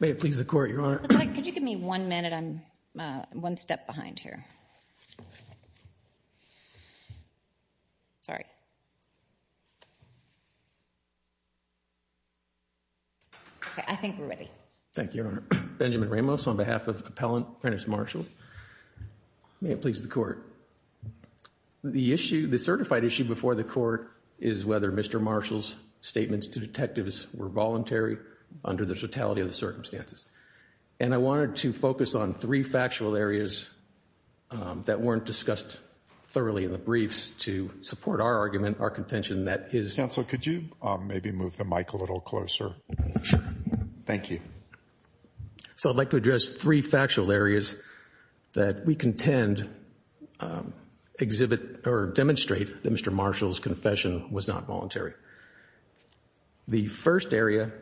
may it please the court your honor could you give me one minute I'm one step behind here sorry I think we're ready thank you Benjamin Ramos on behalf of appellant apprentice Marshall may it please the court the issue the certified issue before the court is whether mr. Marshall's statements to detectives were voluntary under the totality of the circumstances and I wanted to focus on three factual areas that weren't discussed thoroughly in the briefs to support our argument our contention that is counsel could you maybe move the mic a little closer thank you so I'd like to address three factual areas that we contend exhibit or demonstrate that mr. Marshall's confession was not voluntary the first area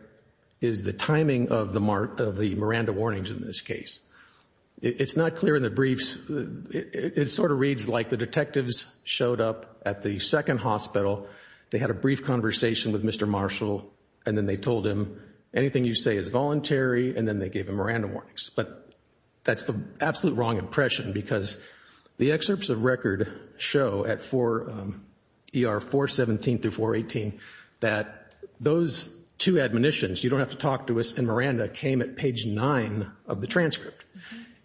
is the timing of the mark of the Miranda warnings in this case it's not clear in the briefs it sort of reads like the detectives showed up at the second hospital they had a brief conversation with mr. Marshall and then they told him anything you say is voluntary and then they gave him a random warnings but that's the absolute wrong impression because the excerpts of record show at 4 er 417 through 418 that those two admonitions you don't have to talk to us and Miranda came at page 9 of the transcript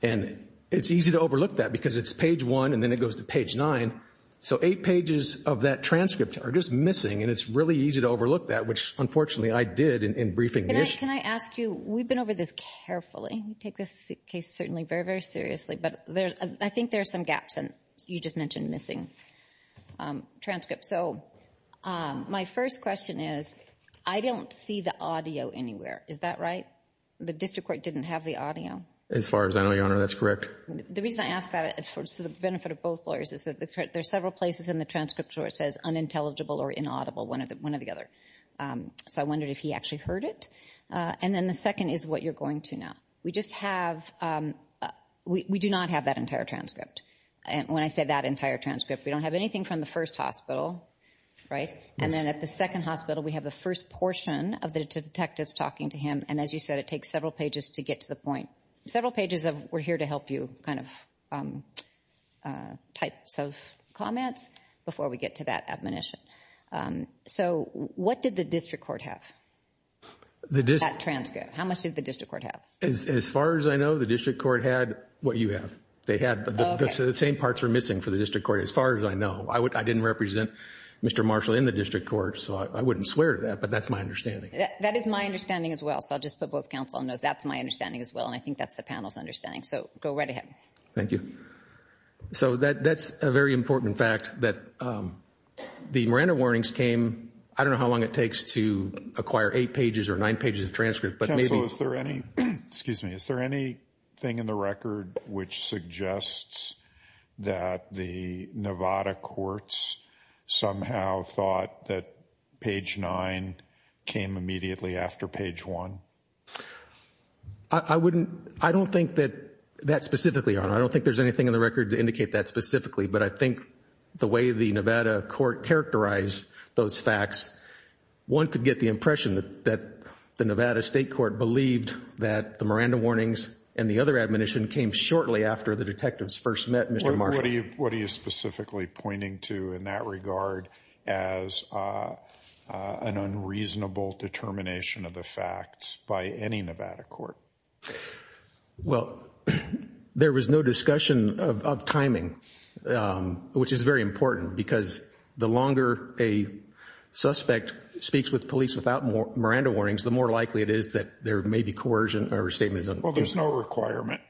and it's easy to overlook that because it's page 1 and then it goes to page 9 so 8 pages of that transcript are just missing and it's really easy to overlook that which unfortunately I did in briefing can I ask you we've been over this carefully you take this case certainly very very seriously but there I think there are some gaps and you just mentioned missing transcript so my first question is I don't see the audio anywhere is that right the district court didn't have the audio as far as I know your honor that's correct the reason I ask that it's for the benefit of both lawyers is that there's several places in the transcript where it says unintelligible or inaudible one of the one of the other so I wondered if he actually heard it and then the second is what you're going to now we just have we do not have that entire transcript and when I say that entire transcript we don't have anything from the first hospital right and then at the second hospital we have the first portion of the detectives talking to him and as you said it takes several pages to get to the point several pages of we're here to help you kind of types of comments before we get to that admonition so what did the district court have the district transcript how much did the district court have as far as I know the court had what you have they had the same parts are missing for the district court as far as I know I would I didn't represent mr. Marshall in the district court so I wouldn't swear to that but that's my understanding that is my understanding as well so I'll just put both counsel knows that's my understanding as well and I think that's the panel's understanding so go right ahead thank you so that that's a very important fact that the Miranda warnings came I don't know how long it takes to acquire eight pages or nine pages of there any excuse me is there any thing in the record which suggests that the Nevada courts somehow thought that page 9 came immediately after page 1 I wouldn't I don't think that that specifically I don't think there's anything in the record to indicate that specifically but I think the way the Nevada court characterized those facts one could get the impression that the state court believed that the Miranda warnings and the other admonition came shortly after the detectives first met mr. Marty what are you specifically pointing to in that regard as an unreasonable determination of the facts by any Nevada court well there was no discussion of timing which is very important because the longer a suspect speaks with police without more Miranda warnings the more likely it is that there may be coercion or statement well there's no requirement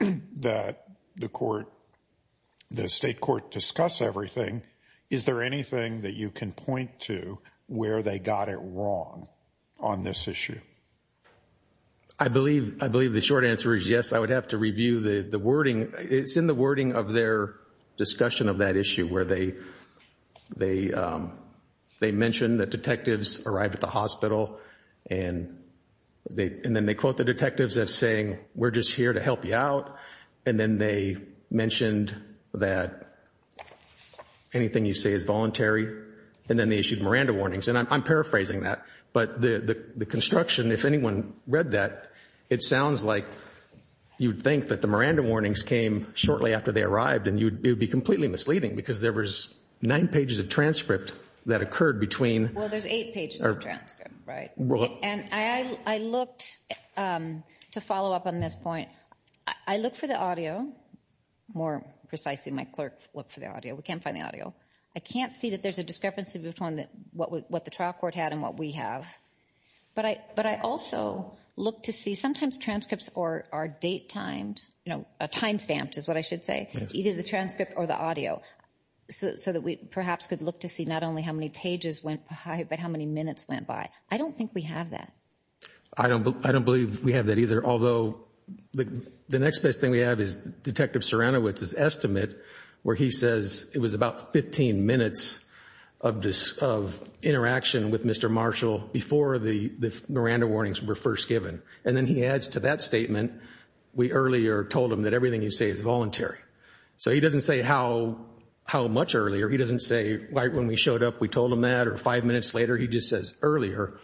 that the court the state court discuss everything is there anything that you can point to where they got it wrong on this issue I believe I believe the short answer is yes I would have to review the the wording it's in the wording of their discussion of that issue where they they they mentioned that detectives arrived at the hospital and they and then they quote the detectives as saying we're just here to help you out and then they mentioned that anything you say is voluntary and then they issued Miranda warnings and I'm paraphrasing that but the the construction if anyone read that it sounds like you'd think that the Miranda warnings came shortly after they arrived and you'd be completely misleading because there was nine pages of transcript that occurred between I looked to follow up on this point I look for the audio more precisely my clerk look for the audio we can't find the audio I can't see that there's a discrepancy between that what what the trial court had and what we have but I but I also look to see sometimes transcripts or our date timed you know a time stamped is what I should say you the transcript or the audio so that we perhaps could look to see not only how many pages went by but how many minutes went by I don't think we have that I don't but I don't believe we have that either although the next best thing we have is detective Serena which is estimate where he says it was about 15 minutes of this of interaction with mr. Marshall before the Miranda warnings were first given and then he adds to that statement we earlier told him that everything you say is voluntary so he doesn't say how how much earlier he doesn't say right when we showed up we told him that or five minutes later he just says earlier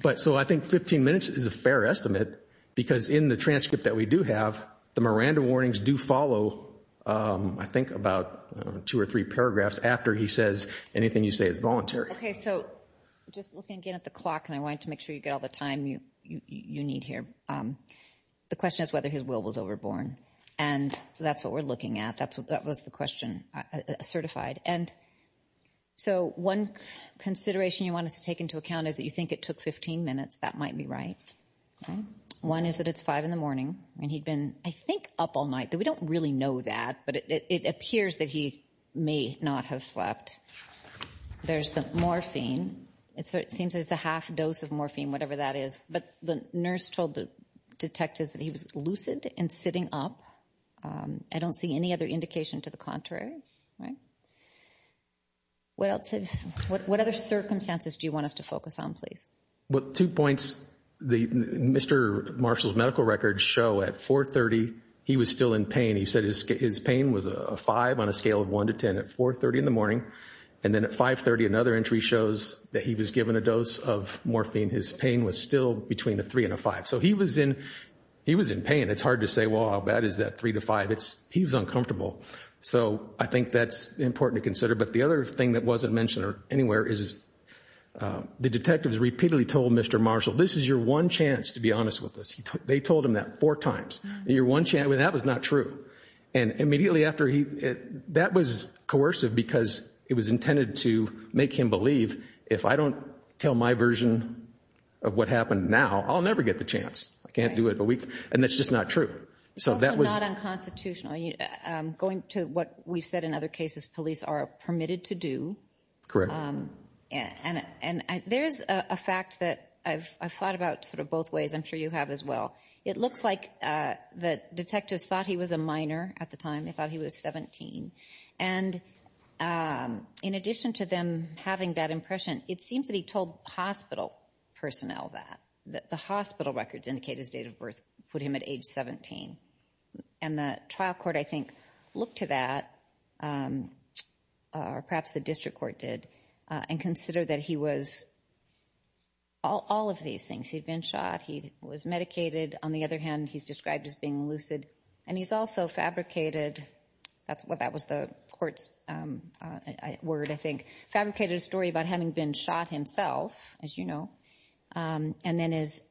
but so I think 15 minutes is a fair estimate because in the transcript that we do have the Miranda warnings do follow I think about two or three paragraphs after he says anything you say is voluntary okay so just looking again at the clock and I wanted to make sure you get all the time you you need here the question is whether his will was overborne and that's what we're looking at that's what that was the question certified and so one consideration you want us to take into account is that you think it took 15 minutes that might be right one is that it's 5 in the morning and he'd been I think up all night that we don't really know that but it appears that he may not have slept there's the morphine it so it seems it's a half dose of morphine whatever that is but the nurse told the detectives that he was lucid and sitting up I don't see any other indication to the contrary right what else have what other circumstances do you want us to focus on please what two points the mr. Marshall's medical records show at 430 he was still in pain he said his pain was a 5 on a scale of 1 to 10 at 4 30 in the morning and then at 530 another entry shows that he was given a dose of morphine his pain was still between a 3 and a 5 so he was in he was in pain it's hard to say well how bad is that 3 to 5 it's he was uncomfortable so I think that's important to consider but the other thing that wasn't mentioned or anywhere is the detectives repeatedly told mr. Marshall this is your one chance to be honest with us he took they told him that four times you're one chance when that was not true and immediately after he that was coercive because it was intended to make him believe if I don't tell my version of what happened now I'll never get the chance I can't do it a week and that's just not true so that was unconstitutional going to what we've said in other cases police are permitted to do correct and and there's a fact that I've thought about sort of both ways I'm sure you have as well it looks like that detectives thought he was a minor at the time they thought he was 17 and in addition to them having that impression it seems that he told hospital personnel that that the hospital records indicate his date of birth put him at age 17 and the trial court I think look to that perhaps the district court did and consider that he was all of these things he'd been shot he was medicated on the other hand he's described as being lucid and he's also fabricated that's what that was the court's word I think fabricated a story about having been shot himself as you know and then is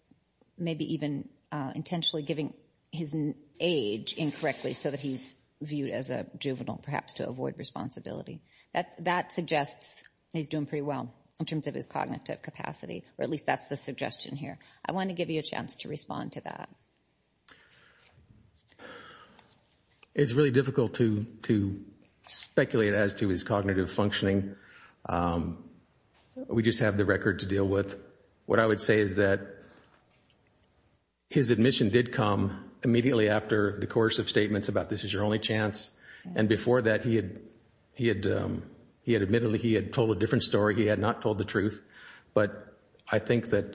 maybe even intentionally giving his age incorrectly so that he's viewed as a juvenile perhaps to avoid responsibility that that suggests he's doing pretty well in terms of his cognitive capacity or at least that's the suggestion here I want to give you a chance to respond to that it's really difficult to to speculate as to his cognitive functioning we just have the record to deal with what I would say is that his admission did come immediately after the course of statements about this is your only chance and before that he had he had he had admittedly he had told a different story he had not told the truth but I think that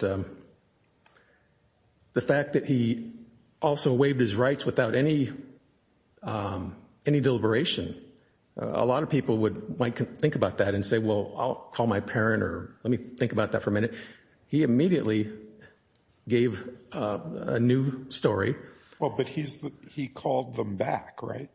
the fact that he also waived his rights without any any deliberation a lot of people would like to think about that and say well I'll call my parent or let me think about that for a minute he immediately gave a new story well but he's he called them back right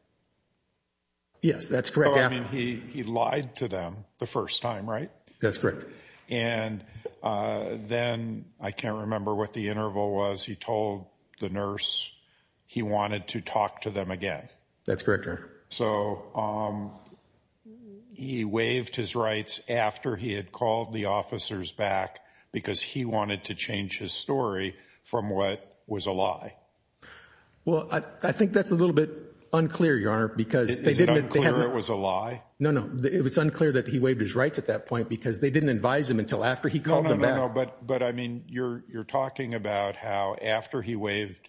yes that's correct he lied to them the first time right that's correct and then I can't remember what the interval was he told the nurse he wanted to talk to them again that's correct so he waived his rights after he had called the officers back because he wanted to change his story from what was a lie well I think that's a little bit unclear your honor because it was a lie no no it was unclear that he waived his rights at that point because they didn't advise him until after he called but but I mean you're you're talking about how after he waived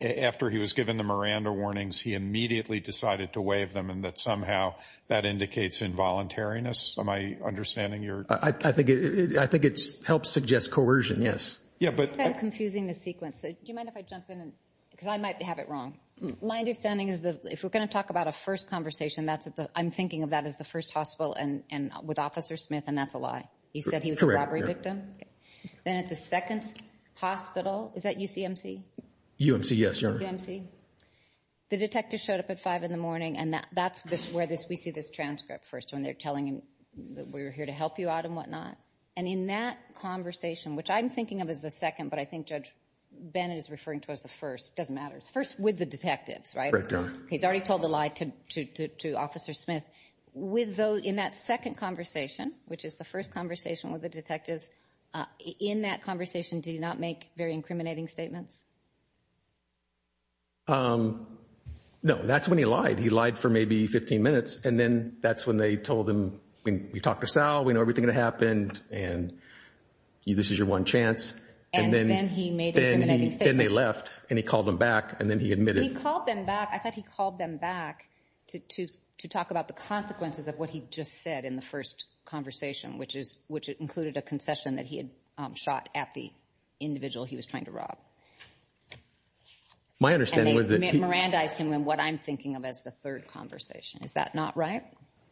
after he was given the Miranda warnings he immediately decided to waive them and that somehow that indicates involuntariness am I understanding your I think it I think it helps suggest coercion yes yeah but confusing the sequence so do you mind if I jump in and because I might have it wrong my understanding is that if we're going to talk about a first conversation that's at the I'm thinking of that as the first hospital and and with officer Smith and that's a lie he said he was a robbery victim then at the second hospital is that UCMC UMC yes your MC the detective showed up at 5 in the morning and that that's where this we see this transcript first when they're telling him that we were here to help you out and whatnot and in that conversation which I'm thinking of is the second but I think judge Bennett is referring to as the first doesn't matters first with the detectives right he's already told the lie to to to officer Smith with those in that second conversation which is the first conversation with the detectives in that conversation do you not make very incriminating statements no that's when he lied he lied for maybe 15 minutes and then that's when they told him when we talked to Sal we know everything that happened and you this is your one chance and then he made anything they left and he called them back and then he admitted he called them back I thought he called them back to to to talk about the consequences of what he just said in the first conversation which is which it included a concession that he had shot at the individual he was trying to rob my understanding was it Miranda's him and what I'm thinking of as the third conversation is that not right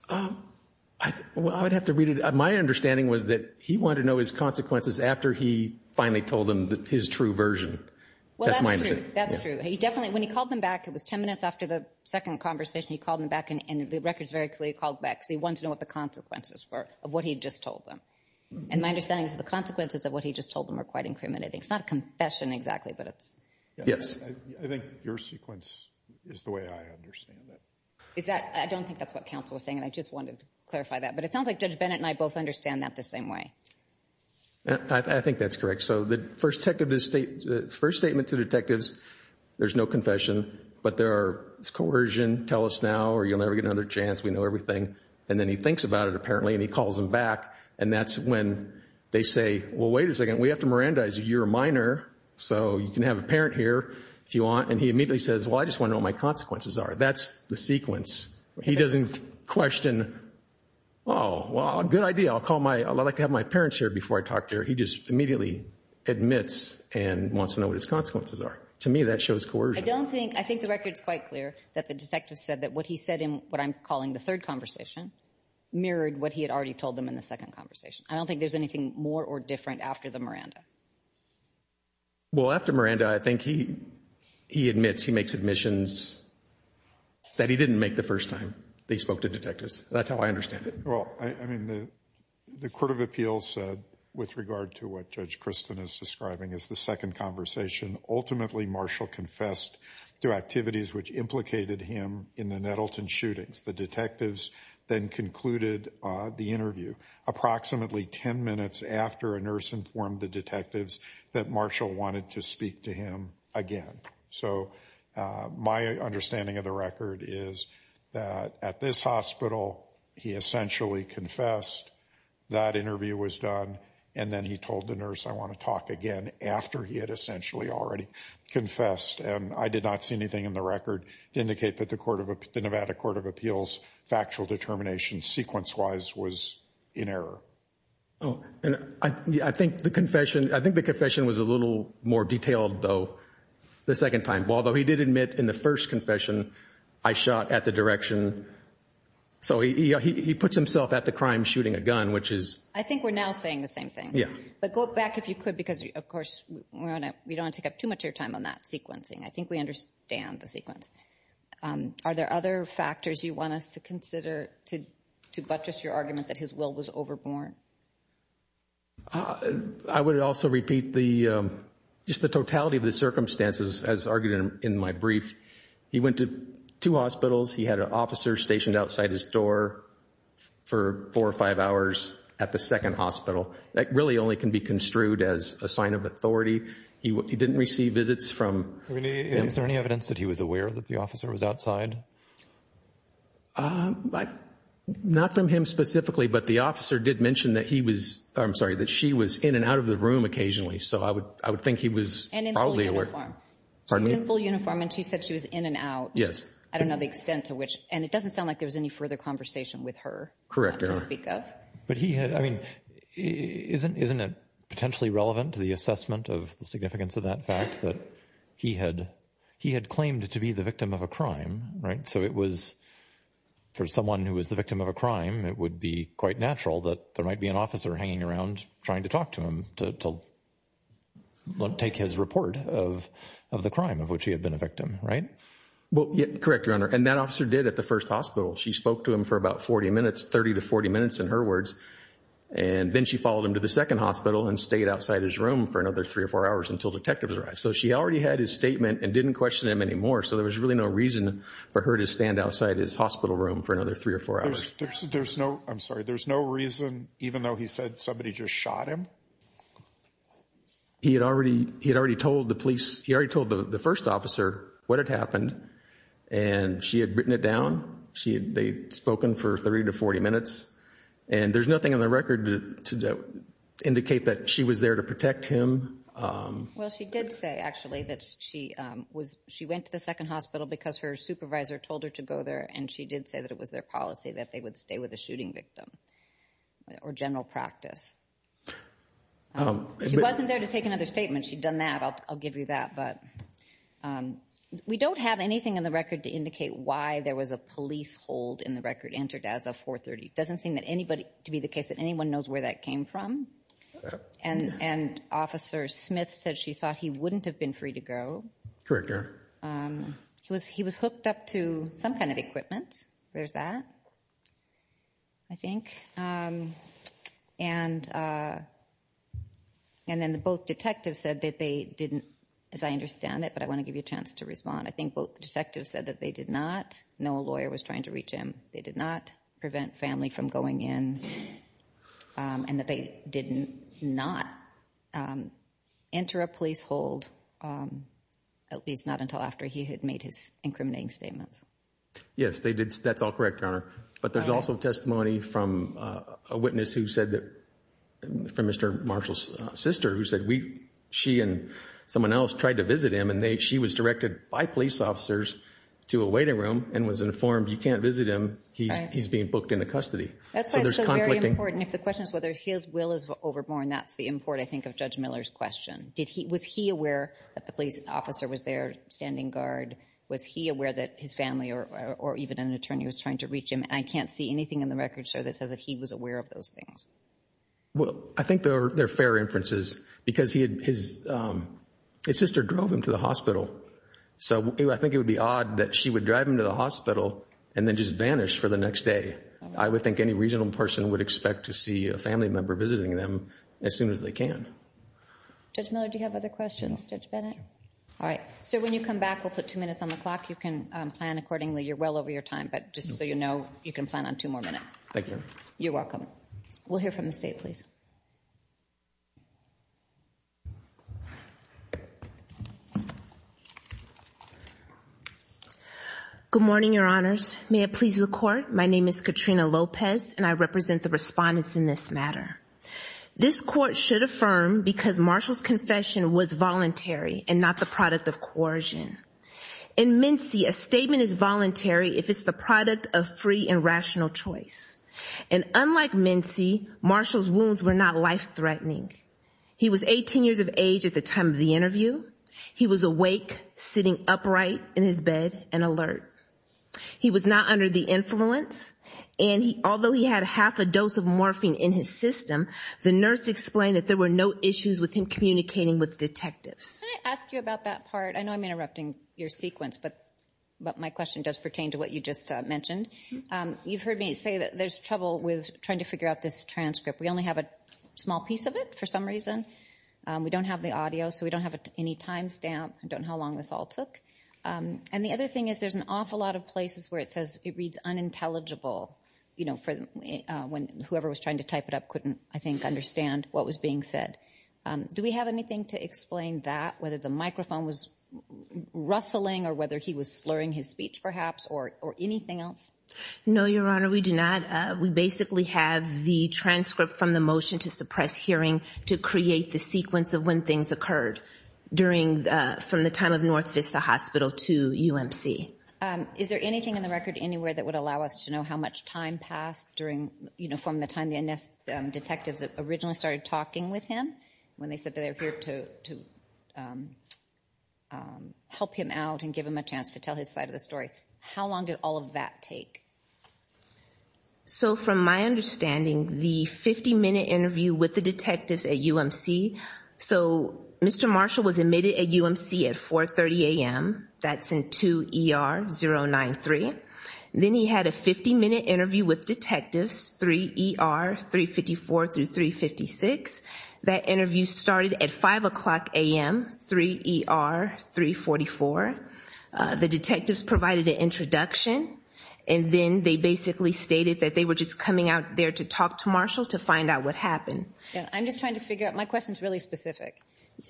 I would have to read it my understanding was that he wanted to know his consequences after he finally told him that his true version that's my that's true he definitely when he called them back it was 10 minutes after the second conversation he called him back and the records very clearly called back so he wanted to know what the consequences were of what he just told them and my understanding is the consequences of what he just told them are quite incriminating it's not a confession exactly but it's yes I think your sequence is the way I understand that is that I don't think that's what counsel was saying and I just wanted to clarify that but it sounds like judge Bennett and I both understand that the same way I think that's correct so the first tech of this state first statement to detectives there's no confession but there are coercion tell us now or you'll never get another chance we know everything and then he thinks about it apparently and he calls him back and that's when they say well wait a second we have to Miranda is a year minor so you can have a parent here if you want and he immediately says well I just wonder what my consequences are that's the sequence he doesn't question oh well good idea I'll call my I'd like to have my parents here before I talk to her he just immediately admits and wants to know what his consequences are to me that shows coercion I don't think I think the records quite clear that the detective said that what he said in what I'm calling the third conversation mirrored what he had already told them in the second conversation I don't think there's anything more or different after the Miranda well after Miranda I think he he admits he makes admissions that he didn't make the first time they spoke to detectives that's how I understand it well I mean the the Court of Appeals said with regard to what judge Kristen is describing as the second conversation ultimately Marshall confessed to activities which implicated him in the Nettleton shootings the detectives then concluded the interview approximately 10 minutes after a nurse informed the detectives that Marshall wanted to speak to him again so my understanding of the record is that at this hospital he essentially confessed that interview was done and then he told the nurse I want to talk again after he had essentially already confessed and I did not see anything in the record to indicate that the court of the Nevada Court of Appeals factual determination sequence wise was in error and I think the confession I think the confession was a little more detailed though the second time although he did admit in the first confession I shot at the direction so he puts himself at the crime shooting a gun which is I think we're now saying the same thing yeah but go back if you could because of course we don't take up too much your time on that sequencing I think we understand the sequence are there other factors you want us to consider to buttress your argument that his will was overborne I would also repeat the just the totality of the circumstances as argued in my brief he went to two hospitals he had an officer stationed outside his door for four or five hours at the second hospital that really only can be construed as a sign of authority he didn't receive visits from any evidence that he was aware that the officer was outside but not from him specifically but the officer did mention that he was I'm sorry that she was in and out of the room occasionally so I would I would think he was in uniform and she said she was in and out yes I don't know the extent to which and it doesn't sound like there was any further conversation with her correct but he had I mean isn't isn't it potentially relevant to the assessment of the significance of that fact that he had he had claimed to be the victim of a crime right so it was for someone who was the victim of a crime it would be quite natural that there might be an officer hanging around trying to talk to him to take his report of of the crime of which he had been a victim right well correct your honor and that officer did at the first hospital she spoke to him for about 40 minutes 30 to 40 minutes in her words and then she followed him to the second hospital and stayed outside his room for another three or four hours until detectives arrived so she already had his statement and didn't question him anymore so there was really no reason for her to stand outside his hospital room for another three or four hours there's no I'm sorry there's no reason even though he said somebody just shot him he had already he had already told the police he already told the first officer what had happened and she had written it down she had they spoken for 30 to 40 minutes and there's nothing on the record to indicate that she was there to protect him well she did say actually that she was she went to the second hospital because her supervisor told her to go there and she did say that it was their policy that they would stay with a shooting victim or general practice she wasn't there to take another statement she'd done that I'll give you that but we don't have anything in the record to indicate why there was a police hold in the record entered as a doesn't seem that anybody to be the case that anyone knows where that came from and and officer Smith said she thought he wouldn't have been free to go corrector he was he was hooked up to some kind of equipment there's that I think and and then the both detectives said that they didn't as I understand it but I want to give you a chance to respond I think both detectives said that they did not know a lawyer was trying to reach him they did not prevent family from going in and that they didn't not enter a police hold at least not until after he had made his incriminating statements yes they did that's all correct our but there's also testimony from a witness who said that for mr. Marshall's sister who said we she and someone else tried to visit him and they she was directed by police officers to a waiting room and was informed you can't visit him he's being booked into custody that's why there's conflict important if the question is whether his will is overborne that's the import I think of judge Miller's question did he was he aware that the police officer was there standing guard was he aware that his family or even an attorney was trying to reach him I can't see anything in the record sir that says that he was aware of those things well I think they're fair inferences because he his sister drove him to the hospital so I think it would be odd that she would drive him to the hospital and then just vanish for the next day I would think any reasonable person would expect to see a family member visiting them as soon as they can judge Miller do you have other questions judge Bennett all right so when you come back we'll put two minutes on the clock you can plan accordingly you're well over your time but just so you know you can plan on two more minutes thank you you're welcome we'll hear from the state please good morning your honors may it please the court my name is Katrina Lopez and I represent the respondents in this matter this court should affirm because Marshall's confession was voluntary and not the product of coercion in Mincy a statement is voluntary if it's the product of free and rational choice and unlike Mincy Marshall's wounds were not life-threatening he was 18 years of age at the time of the interview he was awake sitting upright in his bed and alert he was not under the influence and he although he had half a dose of morphine in his system the nurse explained that there were no issues with him communicating with detectives I know I'm interrupting your sequence but but my question does pertain to what you just mentioned you've heard me say that there's trouble with trying to figure out this transcript we only have a small piece of it for some reason we don't have the audio so we don't have any timestamp I don't know how long this all took and the other thing is there's an awful lot of places where it says it reads unintelligible you know for them when whoever was trying to type it up couldn't I think understand what was being said do we have anything to explain that whether the microphone was rustling or whether he was slurring his speech perhaps or or anything else no your honor we do not we basically have the transcript from the motion to suppress hearing to create the sequence of when things occurred during from the time of North Vista Hospital to UMC is there anything in the record anywhere that would allow us to know how much time passed during you know from the time the NS detectives originally started talking with him when they said they're here to help him out and give him a chance to tell his side of the story how long did all of that take so from my understanding the 50-minute interview with the detectives at UMC so mr. Marshall was admitted at UMC at 430 a.m. that's in 2 ER 0 9 3 then he had a 50-minute interview with detectives 3 ER 354 through 356 that interview started at 5 o'clock a.m. 3 ER 344 the detectives provided an introduction and then they basically stated that they were just coming out there to talk to Marshall to find out what happened I'm just trying to figure out my questions really specific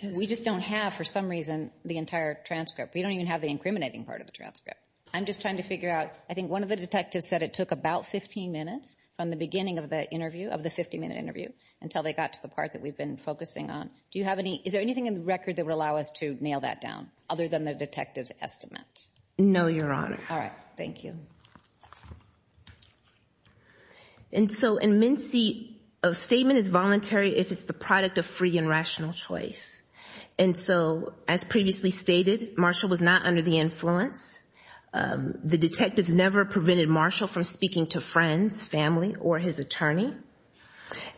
we just don't have for some reason the entire transcript we don't even have the incriminating part of the transcript I'm just trying to figure out I think one of the detectives said it took about 15 minutes from the beginning of the interview of the 50-minute interview until they got to the part that we've been focusing on do you have any is there anything in the record that would allow us to nail that down other than the detectives estimate no your honor all right thank you and so in Mincy a statement is voluntary if it's the product of free and rational choice and so as previously stated Marshall was not under the influence the detectives never prevented Marshall from speaking to friends family or his attorney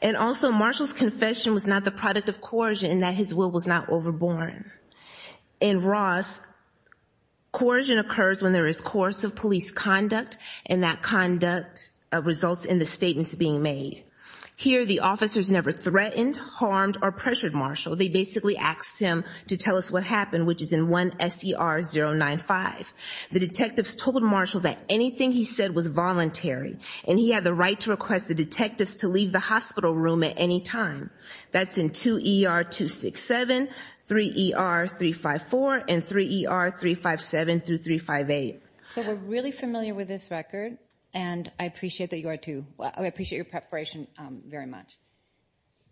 and also Marshall's confession was not the product of coercion and that his will was not overborne in Ross coercion occurs when there is course of police conduct and that conduct results in the statements being made here the officers never threatened harmed or pressured Marshall they basically asked him to tell us what happened which is in one SCR 095 the detectives told Marshall that anything he said was voluntary and he had the right to request the detectives to leave the hospital room at any time that's in 2 er 267 3 er 354 and 3 er 357 through 358 so we're really familiar with this record and I appreciate that you are to I appreciate your preparation very much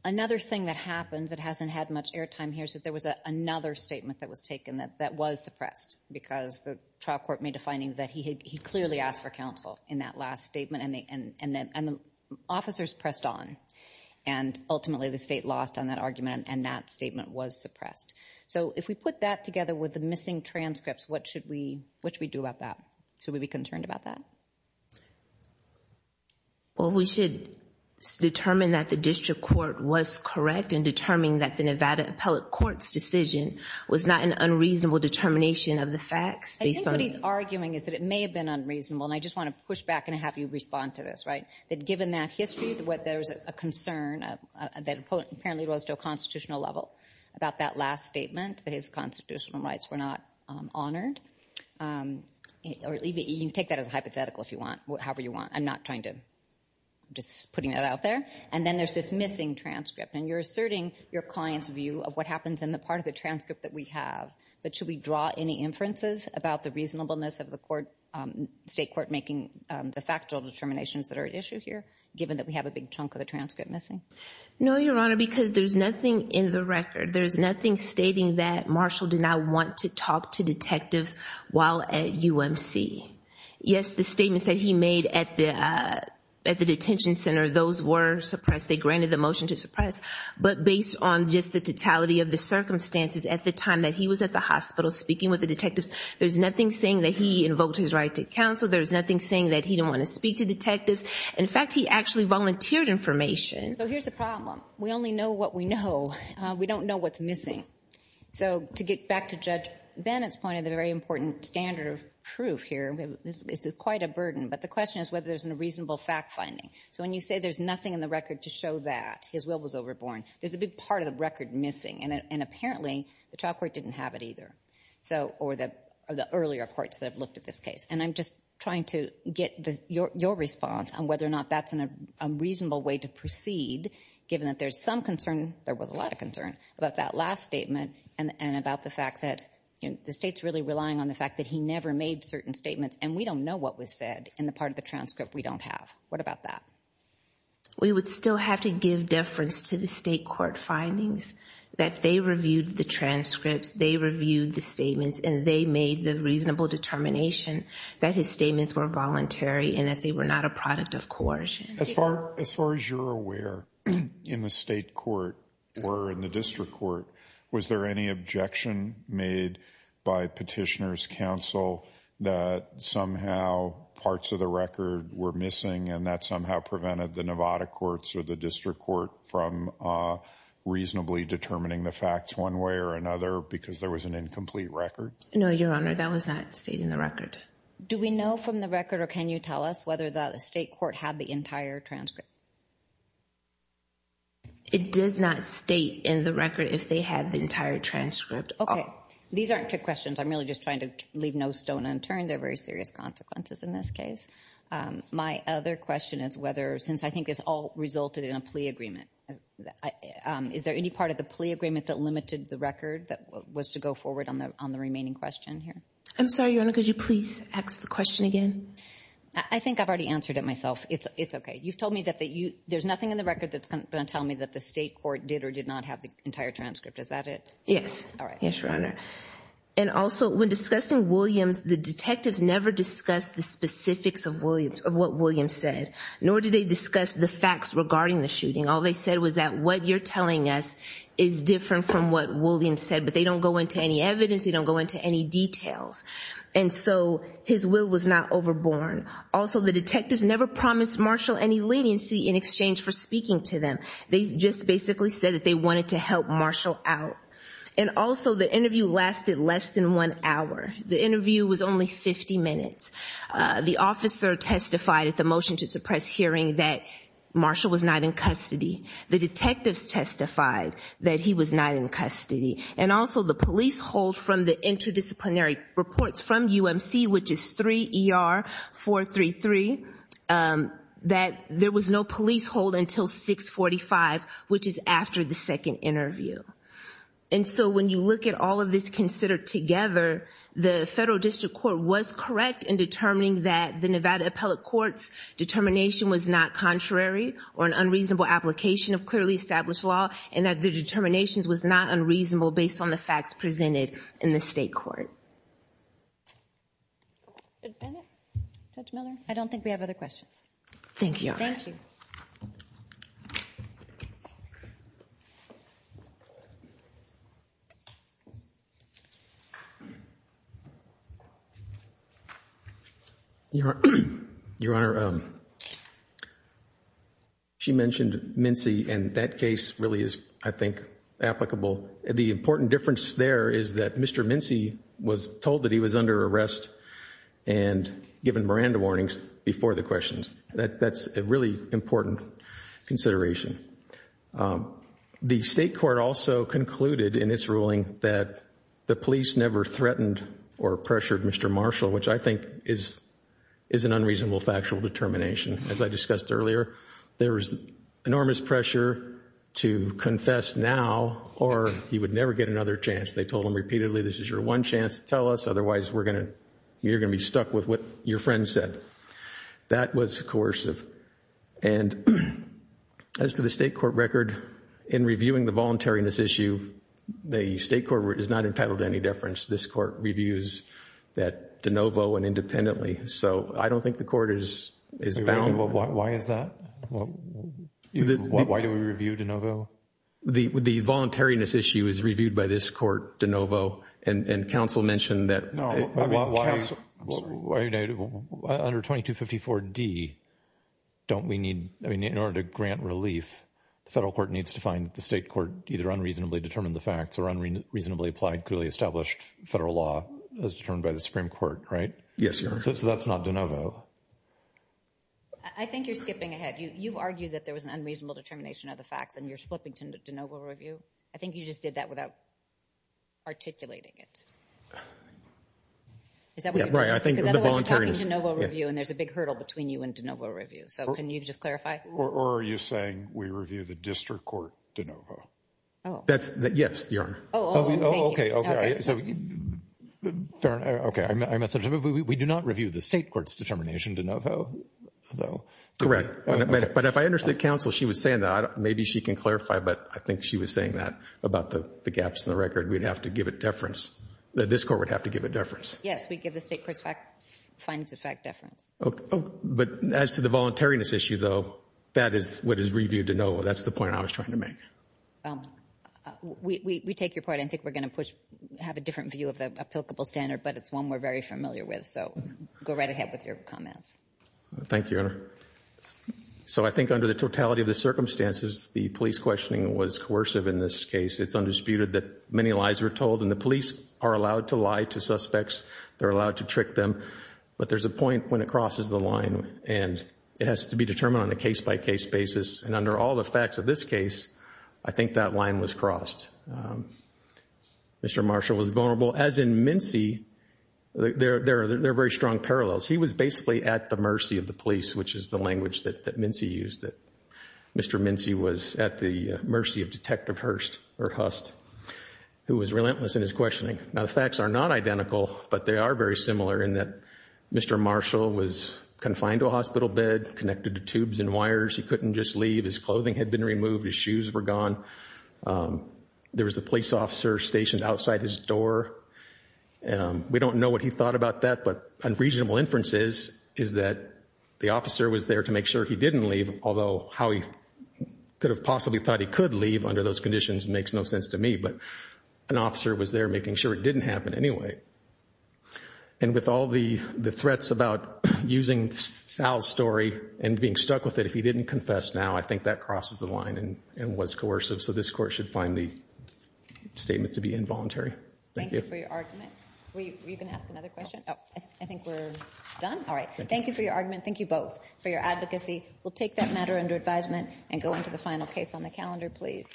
another thing that happened that hasn't had much airtime here's that there was a another statement that was taken that that was suppressed because the trial court made a finding that he clearly asked for counsel in that last statement and they and and then and the officers pressed on and ultimately the state lost on that argument and that statement was suppressed so if we put that together with the missing transcripts what should we which we do about that so we be concerned about that well we should determine that the district court was correct and determining that the Nevada Appellate Court's decision was not an unreasonable determination of the facts based on he's arguing is that it may have been unreasonable and I just want to push back and have you respond to this right that given that history to what there's a concern that apparently rose to a constitutional level about that last statement that his constitutional rights were not honored or leave it you take that as a hypothetical if you want whatever you want I'm not trying to just putting that out there and then there's this missing transcript and you're asserting your clients view of what in the part of the transcript that we have but should we draw any inferences about the reasonableness of the court state court making the factual determinations that are at issue here given that we have a big chunk of the transcript missing no your honor because there's nothing in the record there's nothing stating that Marshall did not want to talk to detectives while at UMC yes the statements that he made at the at the detention center those were suppressed they granted the motion to suppress but based on just the totality of the circumstances at the time that he was at the hospital speaking with the detectives there's nothing saying that he invoked his right to counsel there's nothing saying that he didn't want to speak to detectives in fact he actually volunteered information so here's the problem we only know what we know we don't know what's missing so to get back to judge Bennett's point of the very important standard of proof here this is quite a burden but the question is whether there's a reasonable fact-finding so when you say there's nothing in the record to show that his will was overborne there's a big part of the record missing and apparently the trial court didn't have it either so or the earlier courts that have looked at this case and I'm just trying to get your response on whether or not that's in a reasonable way to proceed given that there's some concern there was a lot of concern about that last statement and about the fact that the state's really relying on the fact that he never made certain statements and we don't know what was said in the part of the transcript we don't have what about that we would still have to give deference to the state court findings that they reviewed the transcripts they reviewed the statements and they made the reasonable determination that his statements were voluntary and that they were not a product of coercion as far as far as you're aware in the state court or in the district court was there any objection made by petitioners counsel that somehow parts of the record were missing and that somehow prevented the Nevada courts or the district court from reasonably determining the facts one way or another because there was an incomplete record no your honor that was not stating the record do we know from the record or can you tell us whether the state court had the entire transcript it does not state in the record if they had the entire transcript okay these aren't two questions I'm really just trying to leave no stone unturned they're very serious consequences in this case my other question is whether since I guess all resulted in a plea agreement is there any part of the plea agreement that limited the record that was to go forward on the on the remaining question here I'm sorry your honor could you please ask the question again I think I've already answered it myself it's it's okay you've told me that that you there's nothing in the record that's gonna tell me that the state court did or did not have the entire transcript is that it yes yes your honor and also when discussing Williams the detectives never discussed the specifics of Williams of what Williams said nor did they discuss the facts regarding the shooting all they said was that what you're telling us is different from what Williams said but they don't go into any evidence you don't go into any details and so his will was not overborn also the detectives never promised Marshall any leniency in exchange for speaking to them they just basically said that they wanted to help Marshall out and also the interview lasted less than one hour the interview was only 50 minutes the officer testified at the motion to suppress hearing that Marshall was not in custody the detectives testified that he was not in custody and also the police hold from the interdisciplinary reports from UMC which is 3 ER 433 that there was no police hold until 645 which is after the second interview and so when you look at all of this considered together the federal district court was correct in determining that the Nevada appellate courts determination was not contrary or an unreasonable application of clearly established law and that the determinations was not unreasonable based on the facts presented in the state court I don't think we have other questions thank you your honor she mentioned Mincy and that case really is I think applicable the important difference there is that mr. Mincy was told that he was under arrest and given Miranda warnings before the questions that that's a really important consideration the state court also concluded in its ruling that the police never threatened or pressured mr. Marshall which I think is is an unreasonable factual determination as I discussed earlier there is enormous pressure to confess now or he would never get another chance they told him repeatedly this is your one chance to tell us otherwise we're gonna you're gonna be stuck with what your friend said that was coercive and as to the state court record in reviewing the voluntariness issue the state court is not entitled to any deference this court reviews that de novo and independently so I don't think the court is why is that why do we review de novo the the voluntariness issue is reviewed by this de novo and and counsel mentioned that no under 2254 D don't we need I mean in order to grant relief the federal court needs to find the state court either unreasonably determined the facts or unreasonably applied clearly established federal law as determined by the Supreme Court right yes so that's not de novo I think you're skipping ahead you've argued that there was an unreasonable determination of the facts and you're flipping to de novo review I think you just did that without articulating it is that right I think there's a big hurdle between you and de novo review so can you just clarify or are you saying we review the district court de novo oh that's that yes you're okay okay I'm a subject we do not review the state courts determination de novo though correct but if I understood counsel she was saying that maybe she can clarify but I think she was saying that about the gaps in the record we'd have to give it deference that this court would have to give a deference yes we give the state courts fact findings of fact deference okay but as to the voluntariness issue though that is what is reviewed to know that's the point I was trying to make we take your point I think we're gonna push have a different view of the applicable standard but it's one we're very familiar with so go right ahead with your comments thank you so I think under the totality of the circumstances the police questioning was coercive in this case it's undisputed that many lies were told and the police are allowed to lie to suspects they're allowed to trick them but there's a point when it crosses the line and it has to be determined on a case-by-case basis and under all the facts of this case I think that line was crossed mr. Marshall was vulnerable as in Mincy they're there they're very strong parallels he was basically at the of the police which is the language that Mincy used that mr. Mincy was at the mercy of detective Hurst or Hust who was relentless in his questioning now the facts are not identical but they are very similar in that mr. Marshall was confined to a hospital bed connected to tubes and wires he couldn't just leave his clothing had been removed his shoes were gone there was the police officer stationed outside his door and we don't know what he thought about that but unreasonable inferences is that the officer was there to make sure he didn't leave although how he could have possibly thought he could leave under those conditions makes no sense to me but an officer was there making sure it didn't happen anyway and with all the the threats about using Sal's story and being stuck with it if he didn't confess now I think that crosses the line and it was coercive so this court should find the statement to be involuntary all right thank you for your argument thank you both for your advocacy we'll take that matter under advisement and go into the final case on the calendar please